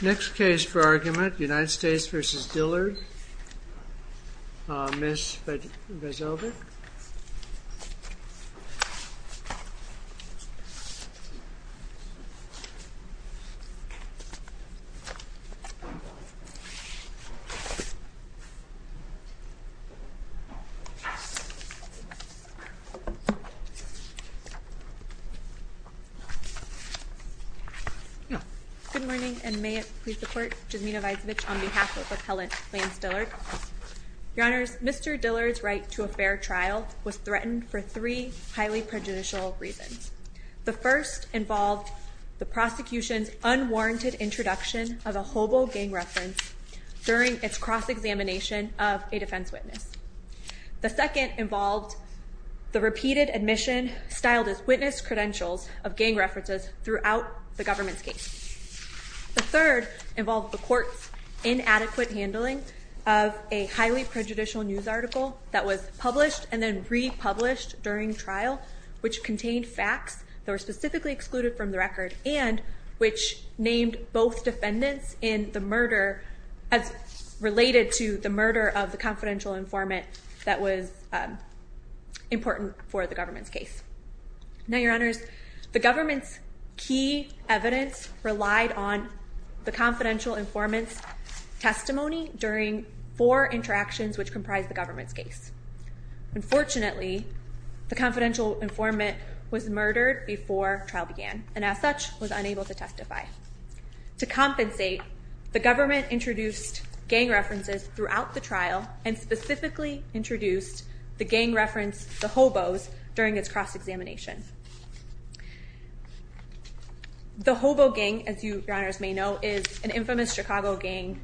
Next case for argument, United States v. Dillard. Miss Veselbeck. Good morning, and may it please the court, Jasmina Veselbeck on behalf of the appellant Lance Dillard. Your honors, Mr. Dillard's right to a fair trial was threatened for three highly prejudicial reasons. The first involved the prosecution's unwarranted introduction of a hobo gang reference during its cross-examination of a defense witness. The second involved the repeated admission, styled as witness credentials, of gang references throughout the government's case. The third involved the court's inadequate handling of a highly prejudicial news article that was published and then republished during trial, which contained facts that were specifically excluded from the record, and which named both defendants in the murder as related to the murder of the confidential informant that was important for the government's case. Now, your honors, the government's key evidence relied on the confidential informant's testimony during four interactions which comprised the government's case. Unfortunately, the confidential informant was murdered before trial began and as such was unable to testify. To compensate, the government introduced gang references throughout the trial and specifically introduced the gang reference, the hobos, during its cross-examination. The hobo gang, as you, your honors, may know, is an infamous Chicago gang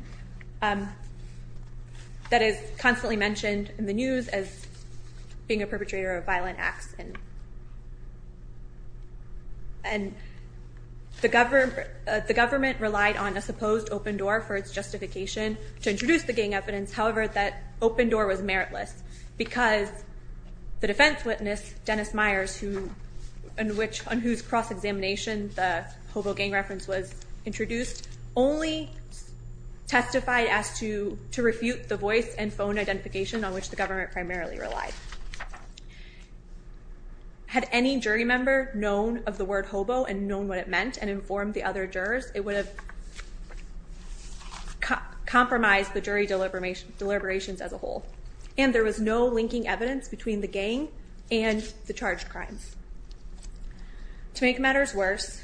that is constantly mentioned in the news as being a perpetrator of violent acts and the government relied on a supposed open door for its justification to introduce the gang evidence, however, that open door was meritless because the defense witness, Dennis Myers, on whose cross-examination the hobo gang reference was introduced, only testified to refute the voice and phone identification on which the government primarily relied. Had any jury member known of the word hobo and known what it meant and informed the other deliberations as a whole and there was no linking evidence between the gang and the charged crimes. To make matters worse,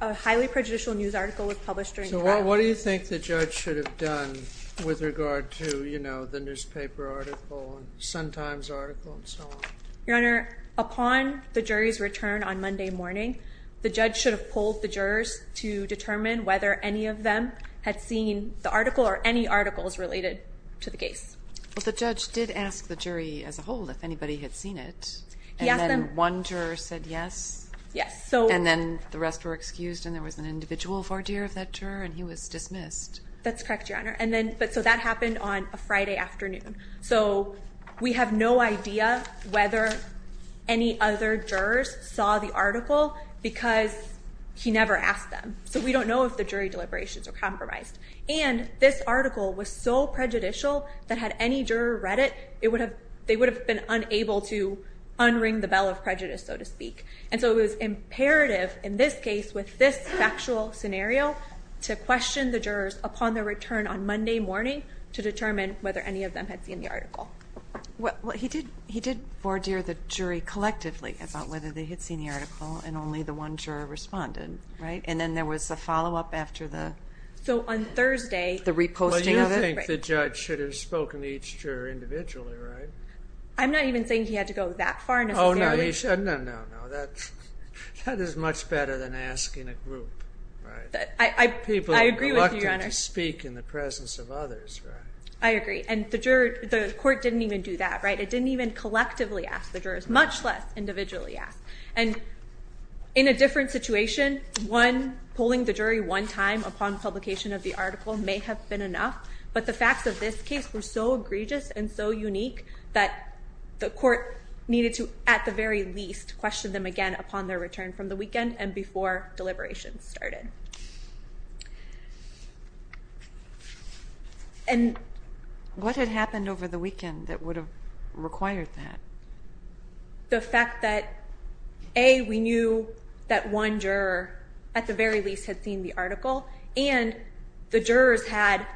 a highly prejudicial news article was published during the trial. So what do you think the judge should have done with regard to, you know, the newspaper article and Sun Times article and so on? Your honor, upon the jury's return on Monday morning, the judge should have polled the jurors to determine whether any of them had seen the article or any articles related to the case. Well, the judge did ask the jury as a whole if anybody had seen it, and then one juror said yes? Yes. And then the rest were excused and there was an individual voir dire of that juror and he was dismissed. That's correct, your honor. And then, so that happened on a Friday afternoon. So we have no idea whether any other jurors saw the article because he never asked them. So we don't know if the jury deliberations were compromised. And this article was so prejudicial that had any juror read it, they would have been unable to unring the bell of prejudice, so to speak. And so it was imperative in this case with this factual scenario to question the jurors upon their return on Monday morning to determine whether any of them had seen the article. He did voir dire the jury collectively about whether they had seen the article and only the one juror responded, right? And then there was a follow-up after the... So on Thursday... The reposting of it? Well, you don't think the judge should have spoken to each juror individually, right? I'm not even saying he had to go that far necessarily. Oh, no, he shouldn't. No, no, no. That is much better than asking a group, right? I agree with you, your honor. People elected to speak in the presence of others, right? I agree. And the court didn't even do that, right? It didn't even collectively ask the jurors, much less individually ask. And in a different situation, one, pulling the jury one time upon publication of the article may have been enough, but the facts of this case were so egregious and so unique that the court needed to, at the very least, question them again upon their return from the weekend and before deliberations started. And what had happened over the weekend that would have required that? The fact that, A, we knew that one juror, at the very least, had seen the article, and the jurors had...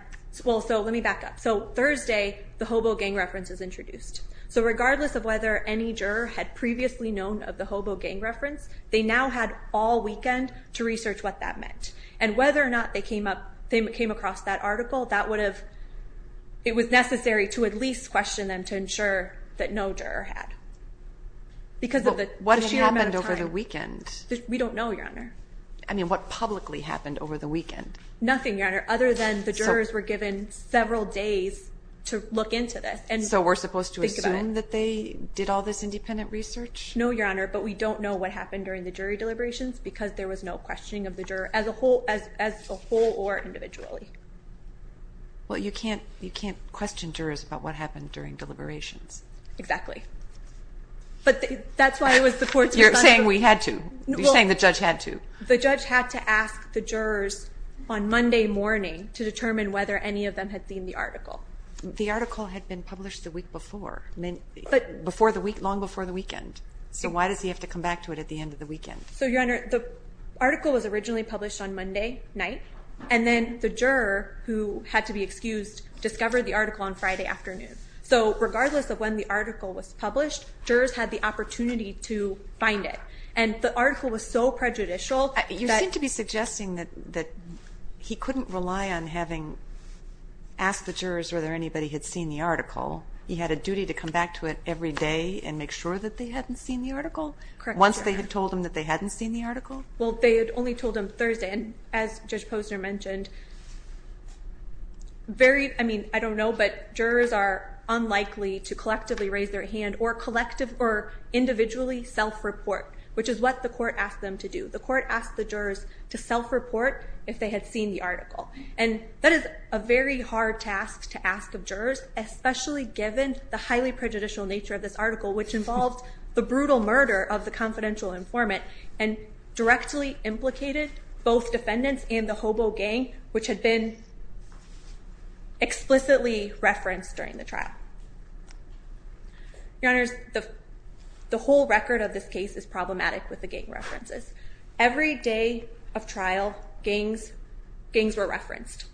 Well, so let me back up. So Thursday, the hobo gang reference is introduced. So regardless of whether any juror had previously known of the hobo gang reference, they now had all weekend to research what that meant. And whether or not they came across that article, that would have... That no juror had. Because of the... What actually happened over the weekend? We don't know, Your Honor. I mean, what publicly happened over the weekend? Nothing, Your Honor, other than the jurors were given several days to look into this. So we're supposed to assume that they did all this independent research? No, Your Honor. But we don't know what happened during the jury deliberations because there was no questioning of the juror as a whole or individually. Well, you can't question jurors about what happened during deliberations. Exactly. But that's why it was the court's... You're saying we had to. You're saying the judge had to. Well, the judge had to ask the jurors on Monday morning to determine whether any of them had seen the article. The article had been published the week before, long before the weekend. So why does he have to come back to it at the end of the weekend? So, Your Honor, the article was originally published on Monday night, and then the jurors who had to be excused discovered the article on Friday afternoon. So regardless of when the article was published, jurors had the opportunity to find it. And the article was so prejudicial that... You seem to be suggesting that he couldn't rely on having asked the jurors whether anybody had seen the article. He had a duty to come back to it every day and make sure that they hadn't seen the article? Correct, Your Honor. Once they had told him that they hadn't seen the article? Well, they had only told him Thursday. And as Judge Posner mentioned, jurors are unlikely to collectively raise their hand or individually self-report, which is what the court asked them to do. The court asked the jurors to self-report if they had seen the article. And that is a very hard task to ask of jurors, especially given the highly prejudicial nature of this article, which involved the brutal murder of the confidential informant and directly implicated both defendants and the hobo gang, which had been explicitly referenced during the trial. Your Honor, the whole record of this case is problematic with the gang references. Every day of trial, gangs were referenced.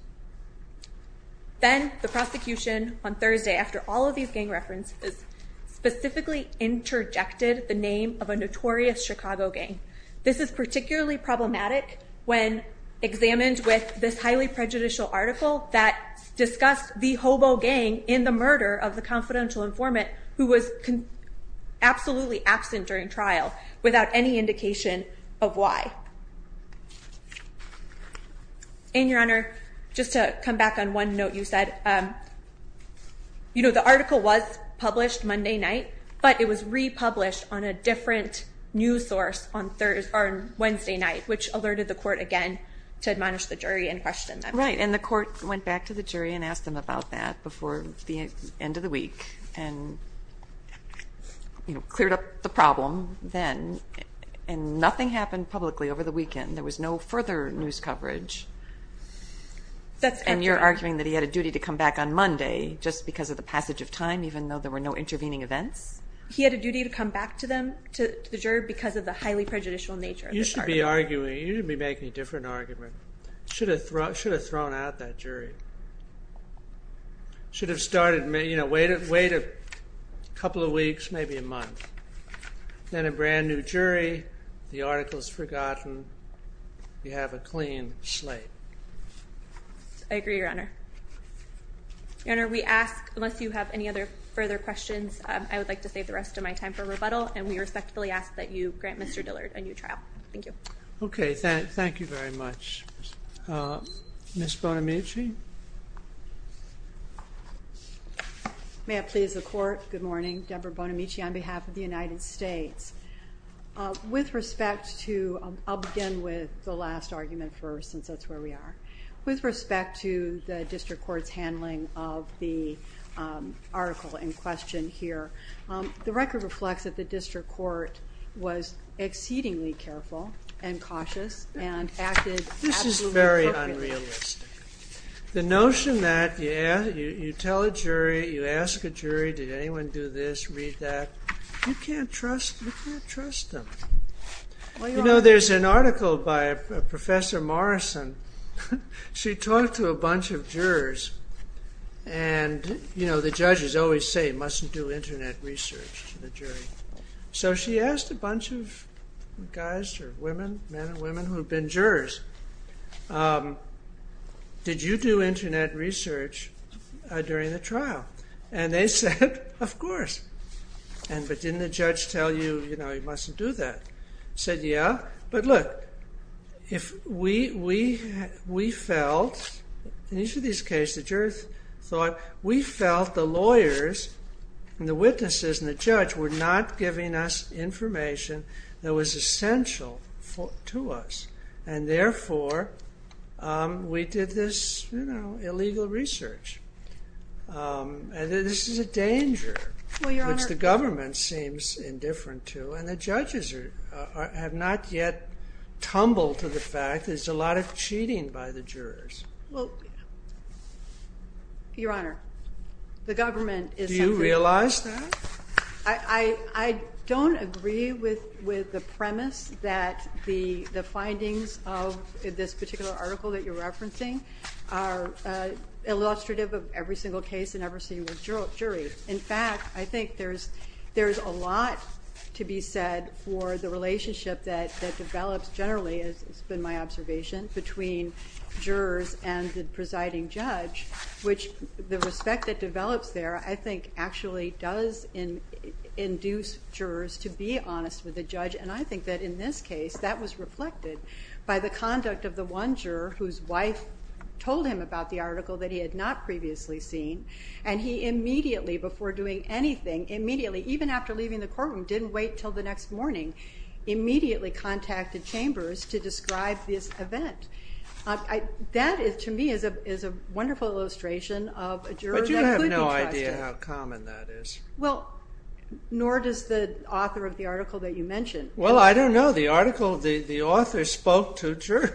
Then, the prosecution on Thursday, after all of these gang references, specifically interjected the name of a notorious Chicago gang. This is particularly problematic when examined with this highly prejudicial article that discussed the hobo gang in the murder of the confidential informant, who was absolutely absent during trial without any indication of why. And, Your Honor, just to come back on one note you said, you know, the article was published Monday night, but it was republished on a different news source on Wednesday night, which alerted the court again to admonish the jury and question them. Right, and the court went back to the jury and asked them about that before the end of the week. And, you know, cleared up the problem then. And nothing happened publicly over the weekend. There was no further news coverage. And you're arguing that he had a duty to come back on Monday, just because of the passage of time, even though there were no intervening events? He had a duty to come back to them, to the jury, because of the highly prejudicial nature of this article. You should be arguing, you should be making a different argument. Should have thrown out that jury. Should have started, you know, waited a couple of weeks, maybe a month. Then, a brand new jury, the article's forgotten, you have a clean slate. I agree, Your Honor. Your Honor, we ask, unless you have any other further questions, I would like to save the rest of my time for rebuttal, and we respectfully ask that you grant Mr. Dillard a new trial. Thank you. Okay, thank you very much. Ms. Bonamici? May I please the court? Good morning. Deborah Bonamici on behalf of the United States. With respect to, I'll begin with the last argument first, since that's where we are. With respect to the district court's handling of the article in question here, the record reflects that the district court was exceedingly careful and cautious and acted absolutely appropriately. This is very unrealistic. The notion that you tell a jury, you ask a jury, did anyone do this, read that, you can't trust them. There's an article by Professor Morrison. She talked to a bunch of jurors and the judges always say, mustn't do internet research to the jury. So she asked a bunch of guys, men and women, who've been jurors, did you do internet research during the trial? And they said, of course. But didn't the judge tell you you mustn't do that? They said, yeah. But look, we felt, in each of these cases, we felt the lawyers and the witnesses and the judge were not giving us information that was essential to us. And therefore, we did this illegal research. And this is a danger which the government seems indifferent to and the judges have not yet tumbled to the fact that there's a lot of cheating by the jurors. Your Honor, the government... Do you realize that? I don't agree with the premise that the findings of this particular article that you're referencing are illustrative of every single case and every single jury. In fact, I think there's a lot to be said for the relationship that develops generally, as has been my observation, between jurors and the presiding judge which the respect that develops there, I think, actually does induce jurors to be honest with the judge. And I think that in this case, that was reflected by the conduct of the one juror whose wife told him about the article that he had not previously seen. And he immediately, before doing anything, immediately, even after leaving the courtroom, didn't wait until the next morning, immediately contacted chambers to describe this event. That, to me, is a wonderful illustration of a juror that could be trusted. But you have no idea how common that is. Well, nor does the author of the article that you mentioned. Well, I don't know. The author spoke to jurors.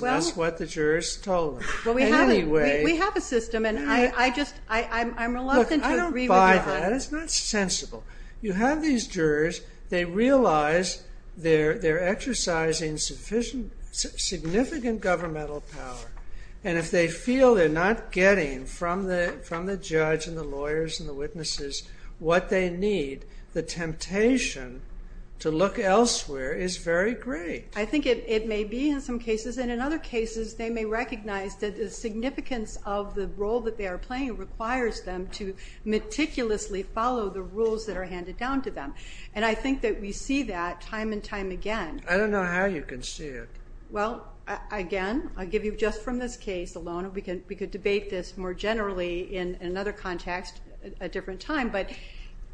That's what the jurors told him. We have a system, and I'm reluctant to agree with you on that. Look, I don't buy that. It's not sensible. You have these jurors. They realize they're exercising significant governmental power. And if they feel they're not getting from the judge and the lawyers and the witnesses what they need, the temptation to look elsewhere is very great. I think it may be in some cases. And in other cases, they may recognize that the significance of the role that they are playing requires them to meticulously follow the rules that are handed down to them. And I think that we see that time and time again. I don't know how you can see it. Well, again, I'll give you just from this case alone. We could debate this more generally in another context at a different time. But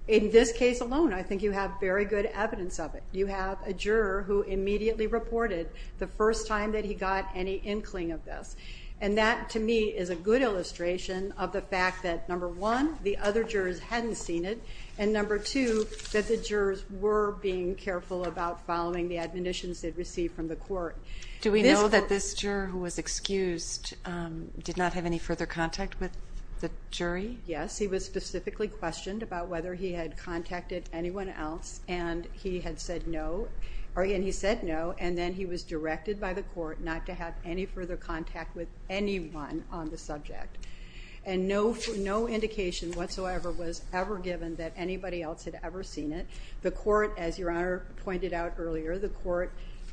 in this case alone, I think you have very good evidence of it. You have a juror who immediately reported the first time that he got any inkling of this. And that, to me, is a good illustration of the fact that number one, the other jurors hadn't seen it, and number two, that the jurors were being careful about following the admonitions they'd received from the court. Do we know that this juror who was excused did not have any further contact with the jury? Yes. He was specifically questioned about whether he had contacted anyone else, and he had said no. And he said no, and then he was directed by the court not to have any further contact with anyone on the subject. And no indication whatsoever was ever given that anybody else had ever seen it. The court, as Your Honor pointed out earlier, the court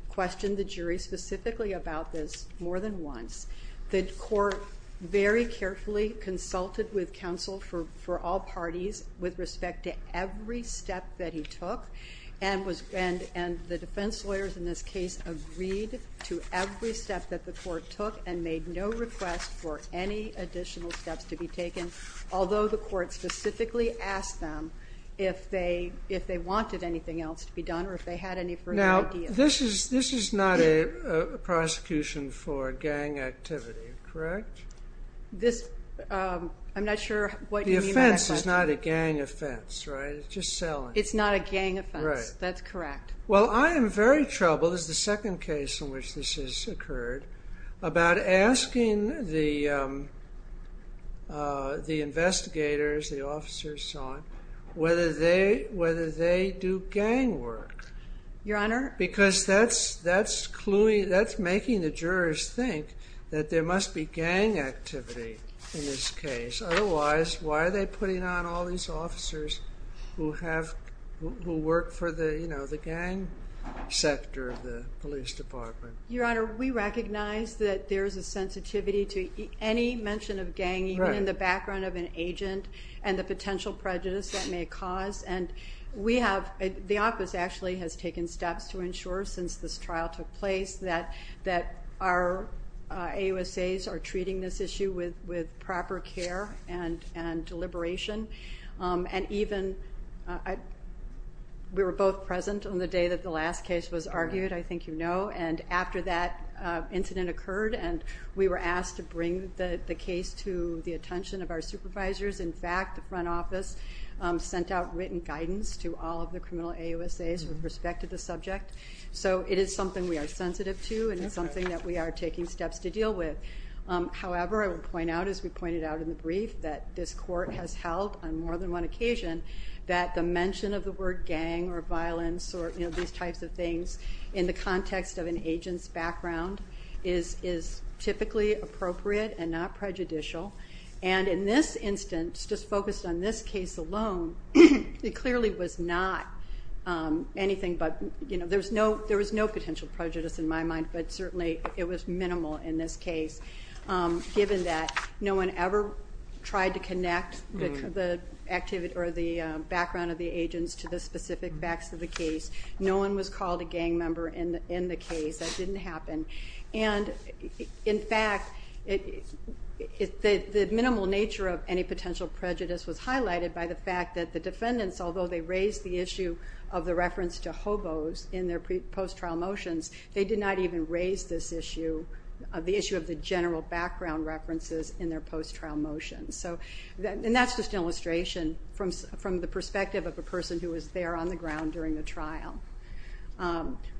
questioned the jury specifically about this more than once. The court very carefully consulted with counsel for all parties with respect to every step that he took, and the defense lawyers in this case agreed to every step that the court took and made no request for any additional steps to be taken, although the court specifically asked them if they wanted anything else to be done or if they had any further ideas. Now, this is not a prosecution for gang activity, correct? I'm not sure what you mean by that question. The offense is not a gang offense, right? It's just selling. It's not a gang offense. That's correct. Well, I am very troubled, as the second case in which this has occurred, about asking the investigators, the officers, so on, whether they do gang work. Your Honor? Because that's making the jurors think that there must be gang activity in this case. Otherwise, why are they putting on all these officers who work for the gang sector of the police department? Your Honor, we recognize that there's a sensitivity to any mention of gang even in the background of an agent and the potential prejudice that may cause. The office actually has taken steps to ensure, since this trial took place, that our AUSAs are treating this issue with proper care and deliberation and even, we were both present on the day that the last case was argued, I think you know, and after that incident occurred and we were asked to bring the case to the attention of our supervisors. In fact, the front office sent out written guidance to all of the criminal AUSAs with respect to the subject. So it is something we are sensitive to and it's something that we are taking steps to deal with. However, I will point out, as we pointed out in the brief, that this court has held on more than one occasion that the mention of the word gang or violence or these types of things in the context of an agent's background is typically appropriate and not prejudicial. And in this instance, just focused on this case alone, it clearly was not anything but, there was no potential prejudice in my mind but certainly it was minimal in this case given that no one ever tried to connect the background of the agents to the specific facts of the case. No one was called a gang member in the case. That didn't happen. And in fact, the minimal nature of any potential prejudice was highlighted by the fact that the defendants, although they raised the issue of the reference to hobos in their post-trial motions, they did not even raise this issue, the issue of the general background references in their post-trial motions. And that's just an illustration from the perspective of a person who was there on the ground during the trial.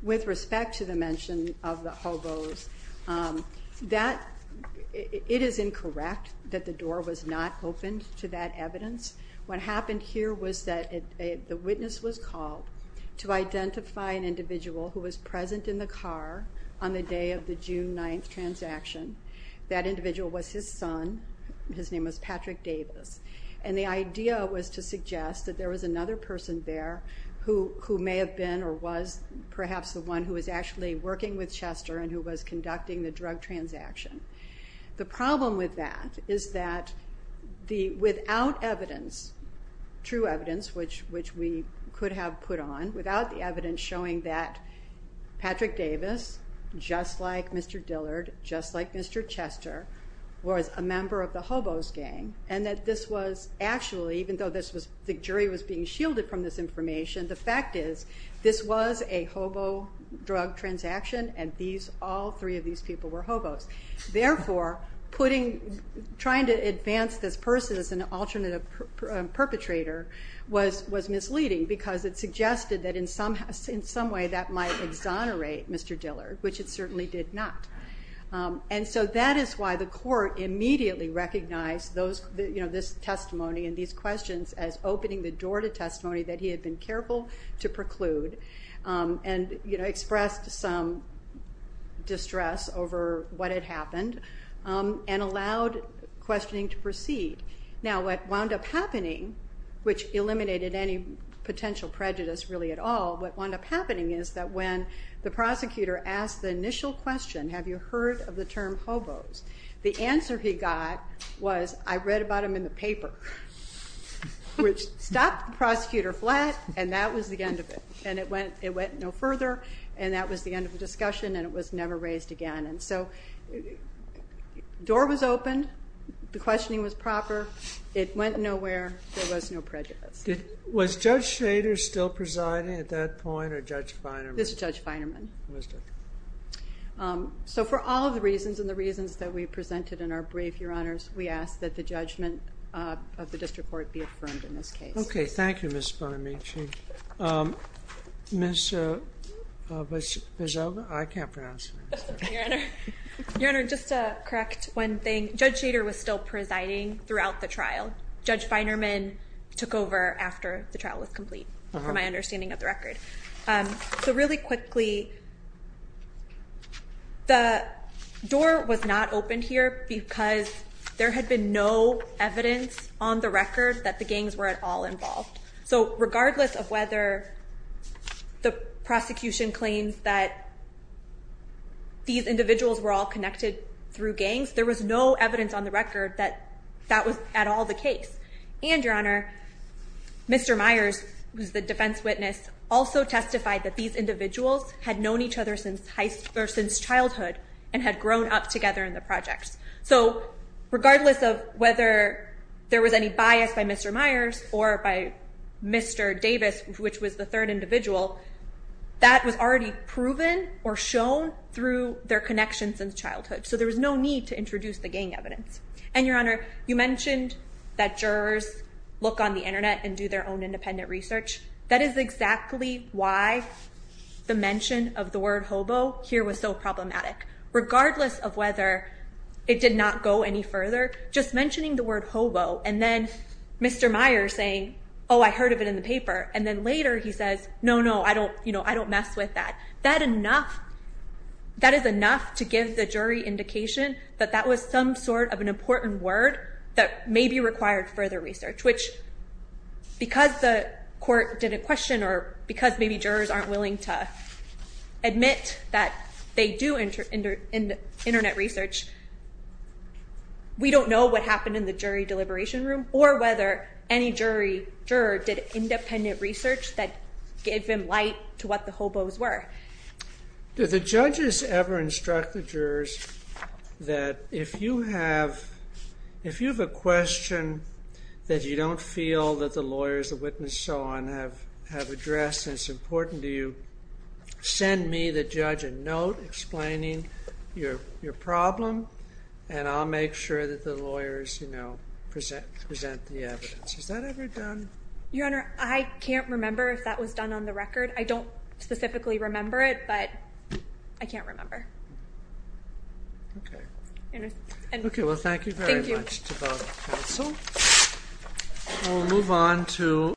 With respect to the mention of the hobos, it is incorrect that the door was not opened to that evidence. What happened here was that the witness was called to identify an individual who was present in the car on the day of the June 9th transaction. That individual was his son. His name was Patrick Davis. And the idea was to suggest that there was another person there who may have been or was perhaps the one who was actually working with Chester and who was conducting the drug transaction. The problem with that is that without evidence, true evidence, which we could have put on, without the evidence showing that Patrick Davis, just like Mr. Dillard, just like Mr. Chester, was a member of the hobos gang, and that this was actually, even though the jury was being shielded from this information, the fact is this was a hobo drug transaction and all three of these people were hobos. Therefore, trying to advance this person as an alternate perpetrator was misleading because it suggested that in some way that might exonerate Mr. Dillard, which it certainly did not. That is why the court immediately recognized this testimony and these questions as opening the door to testimony that he had been careful to preclude and expressed some distress over what had happened and allowed questioning to proceed. Now, what wound up happening, which eliminated any potential prejudice really at all, what wound up happening is that when the prosecutor asked the initial question, have you heard of the term hobos? The answer he got was, I read about him in the paper, which stopped the prosecutor flat and that was the end of it. It went no further and that was the end of the discussion and it was never raised again. So, the door was opened, the questioning was proper, it went nowhere, there was no prejudice. Was Judge Schrader still presiding at that point or Judge Feinerman? This was Judge Feinerman. For all of the reasons and the reasons that we presented in our brief, Your Honors, we ask that the judgment of the district court be affirmed in this case. Okay, thank you Ms. Bonamici. Ms. Bezova? I can't pronounce her name. Your Honor, just to correct one thing, Judge Schrader was still presiding throughout the trial. Judge Feinerman took over after the trial was complete from my understanding of the record. So really quickly, the door was not opened here because there had been no evidence on the record that the gangs were at all involved. So regardless of whether the prosecution claims that these individuals were all connected through gangs, there was no evidence on the record that that was at all the case. And Your Honor, Mr. Myers, who is the defense witness, also testified that these individuals had known each other since childhood and had grown up together in the projects. So regardless of whether there was any bias by Mr. Myers or by Mr. Davis, which was the third individual, that was already proven or shown through their connections in childhood. So there was no need to introduce the gang evidence. And Your Honor, you mentioned that jurors look on the internet and do their own independent research. That is exactly why the mention of the word hobo here was so problematic. Regardless of whether it did not go any further, just mentioning the word hobo and then Mr. Myers saying, oh, I heard of it in the paper and then later he says, no, no, I don't mess with that. That is enough to give the jury indication that that was some sort of an important word that maybe required further research. Which, because the court didn't question or because maybe jurors aren't willing to admit that they do internet research, we don't know what happened in the jury deliberation room or whether any juror did independent research that gave them light to what the hobos were. Did the judges ever instruct the jurors that if you have a question that you don't feel that the lawyers, the witness, so on, have addressed and it's important to you, send me the judge a note explaining your problem and I'll make sure that the lawyers present the evidence. Has that ever done? Your Honor, I can't remember if that was done on the record. I don't specifically remember it, but I can't remember. Okay. We'll move on to...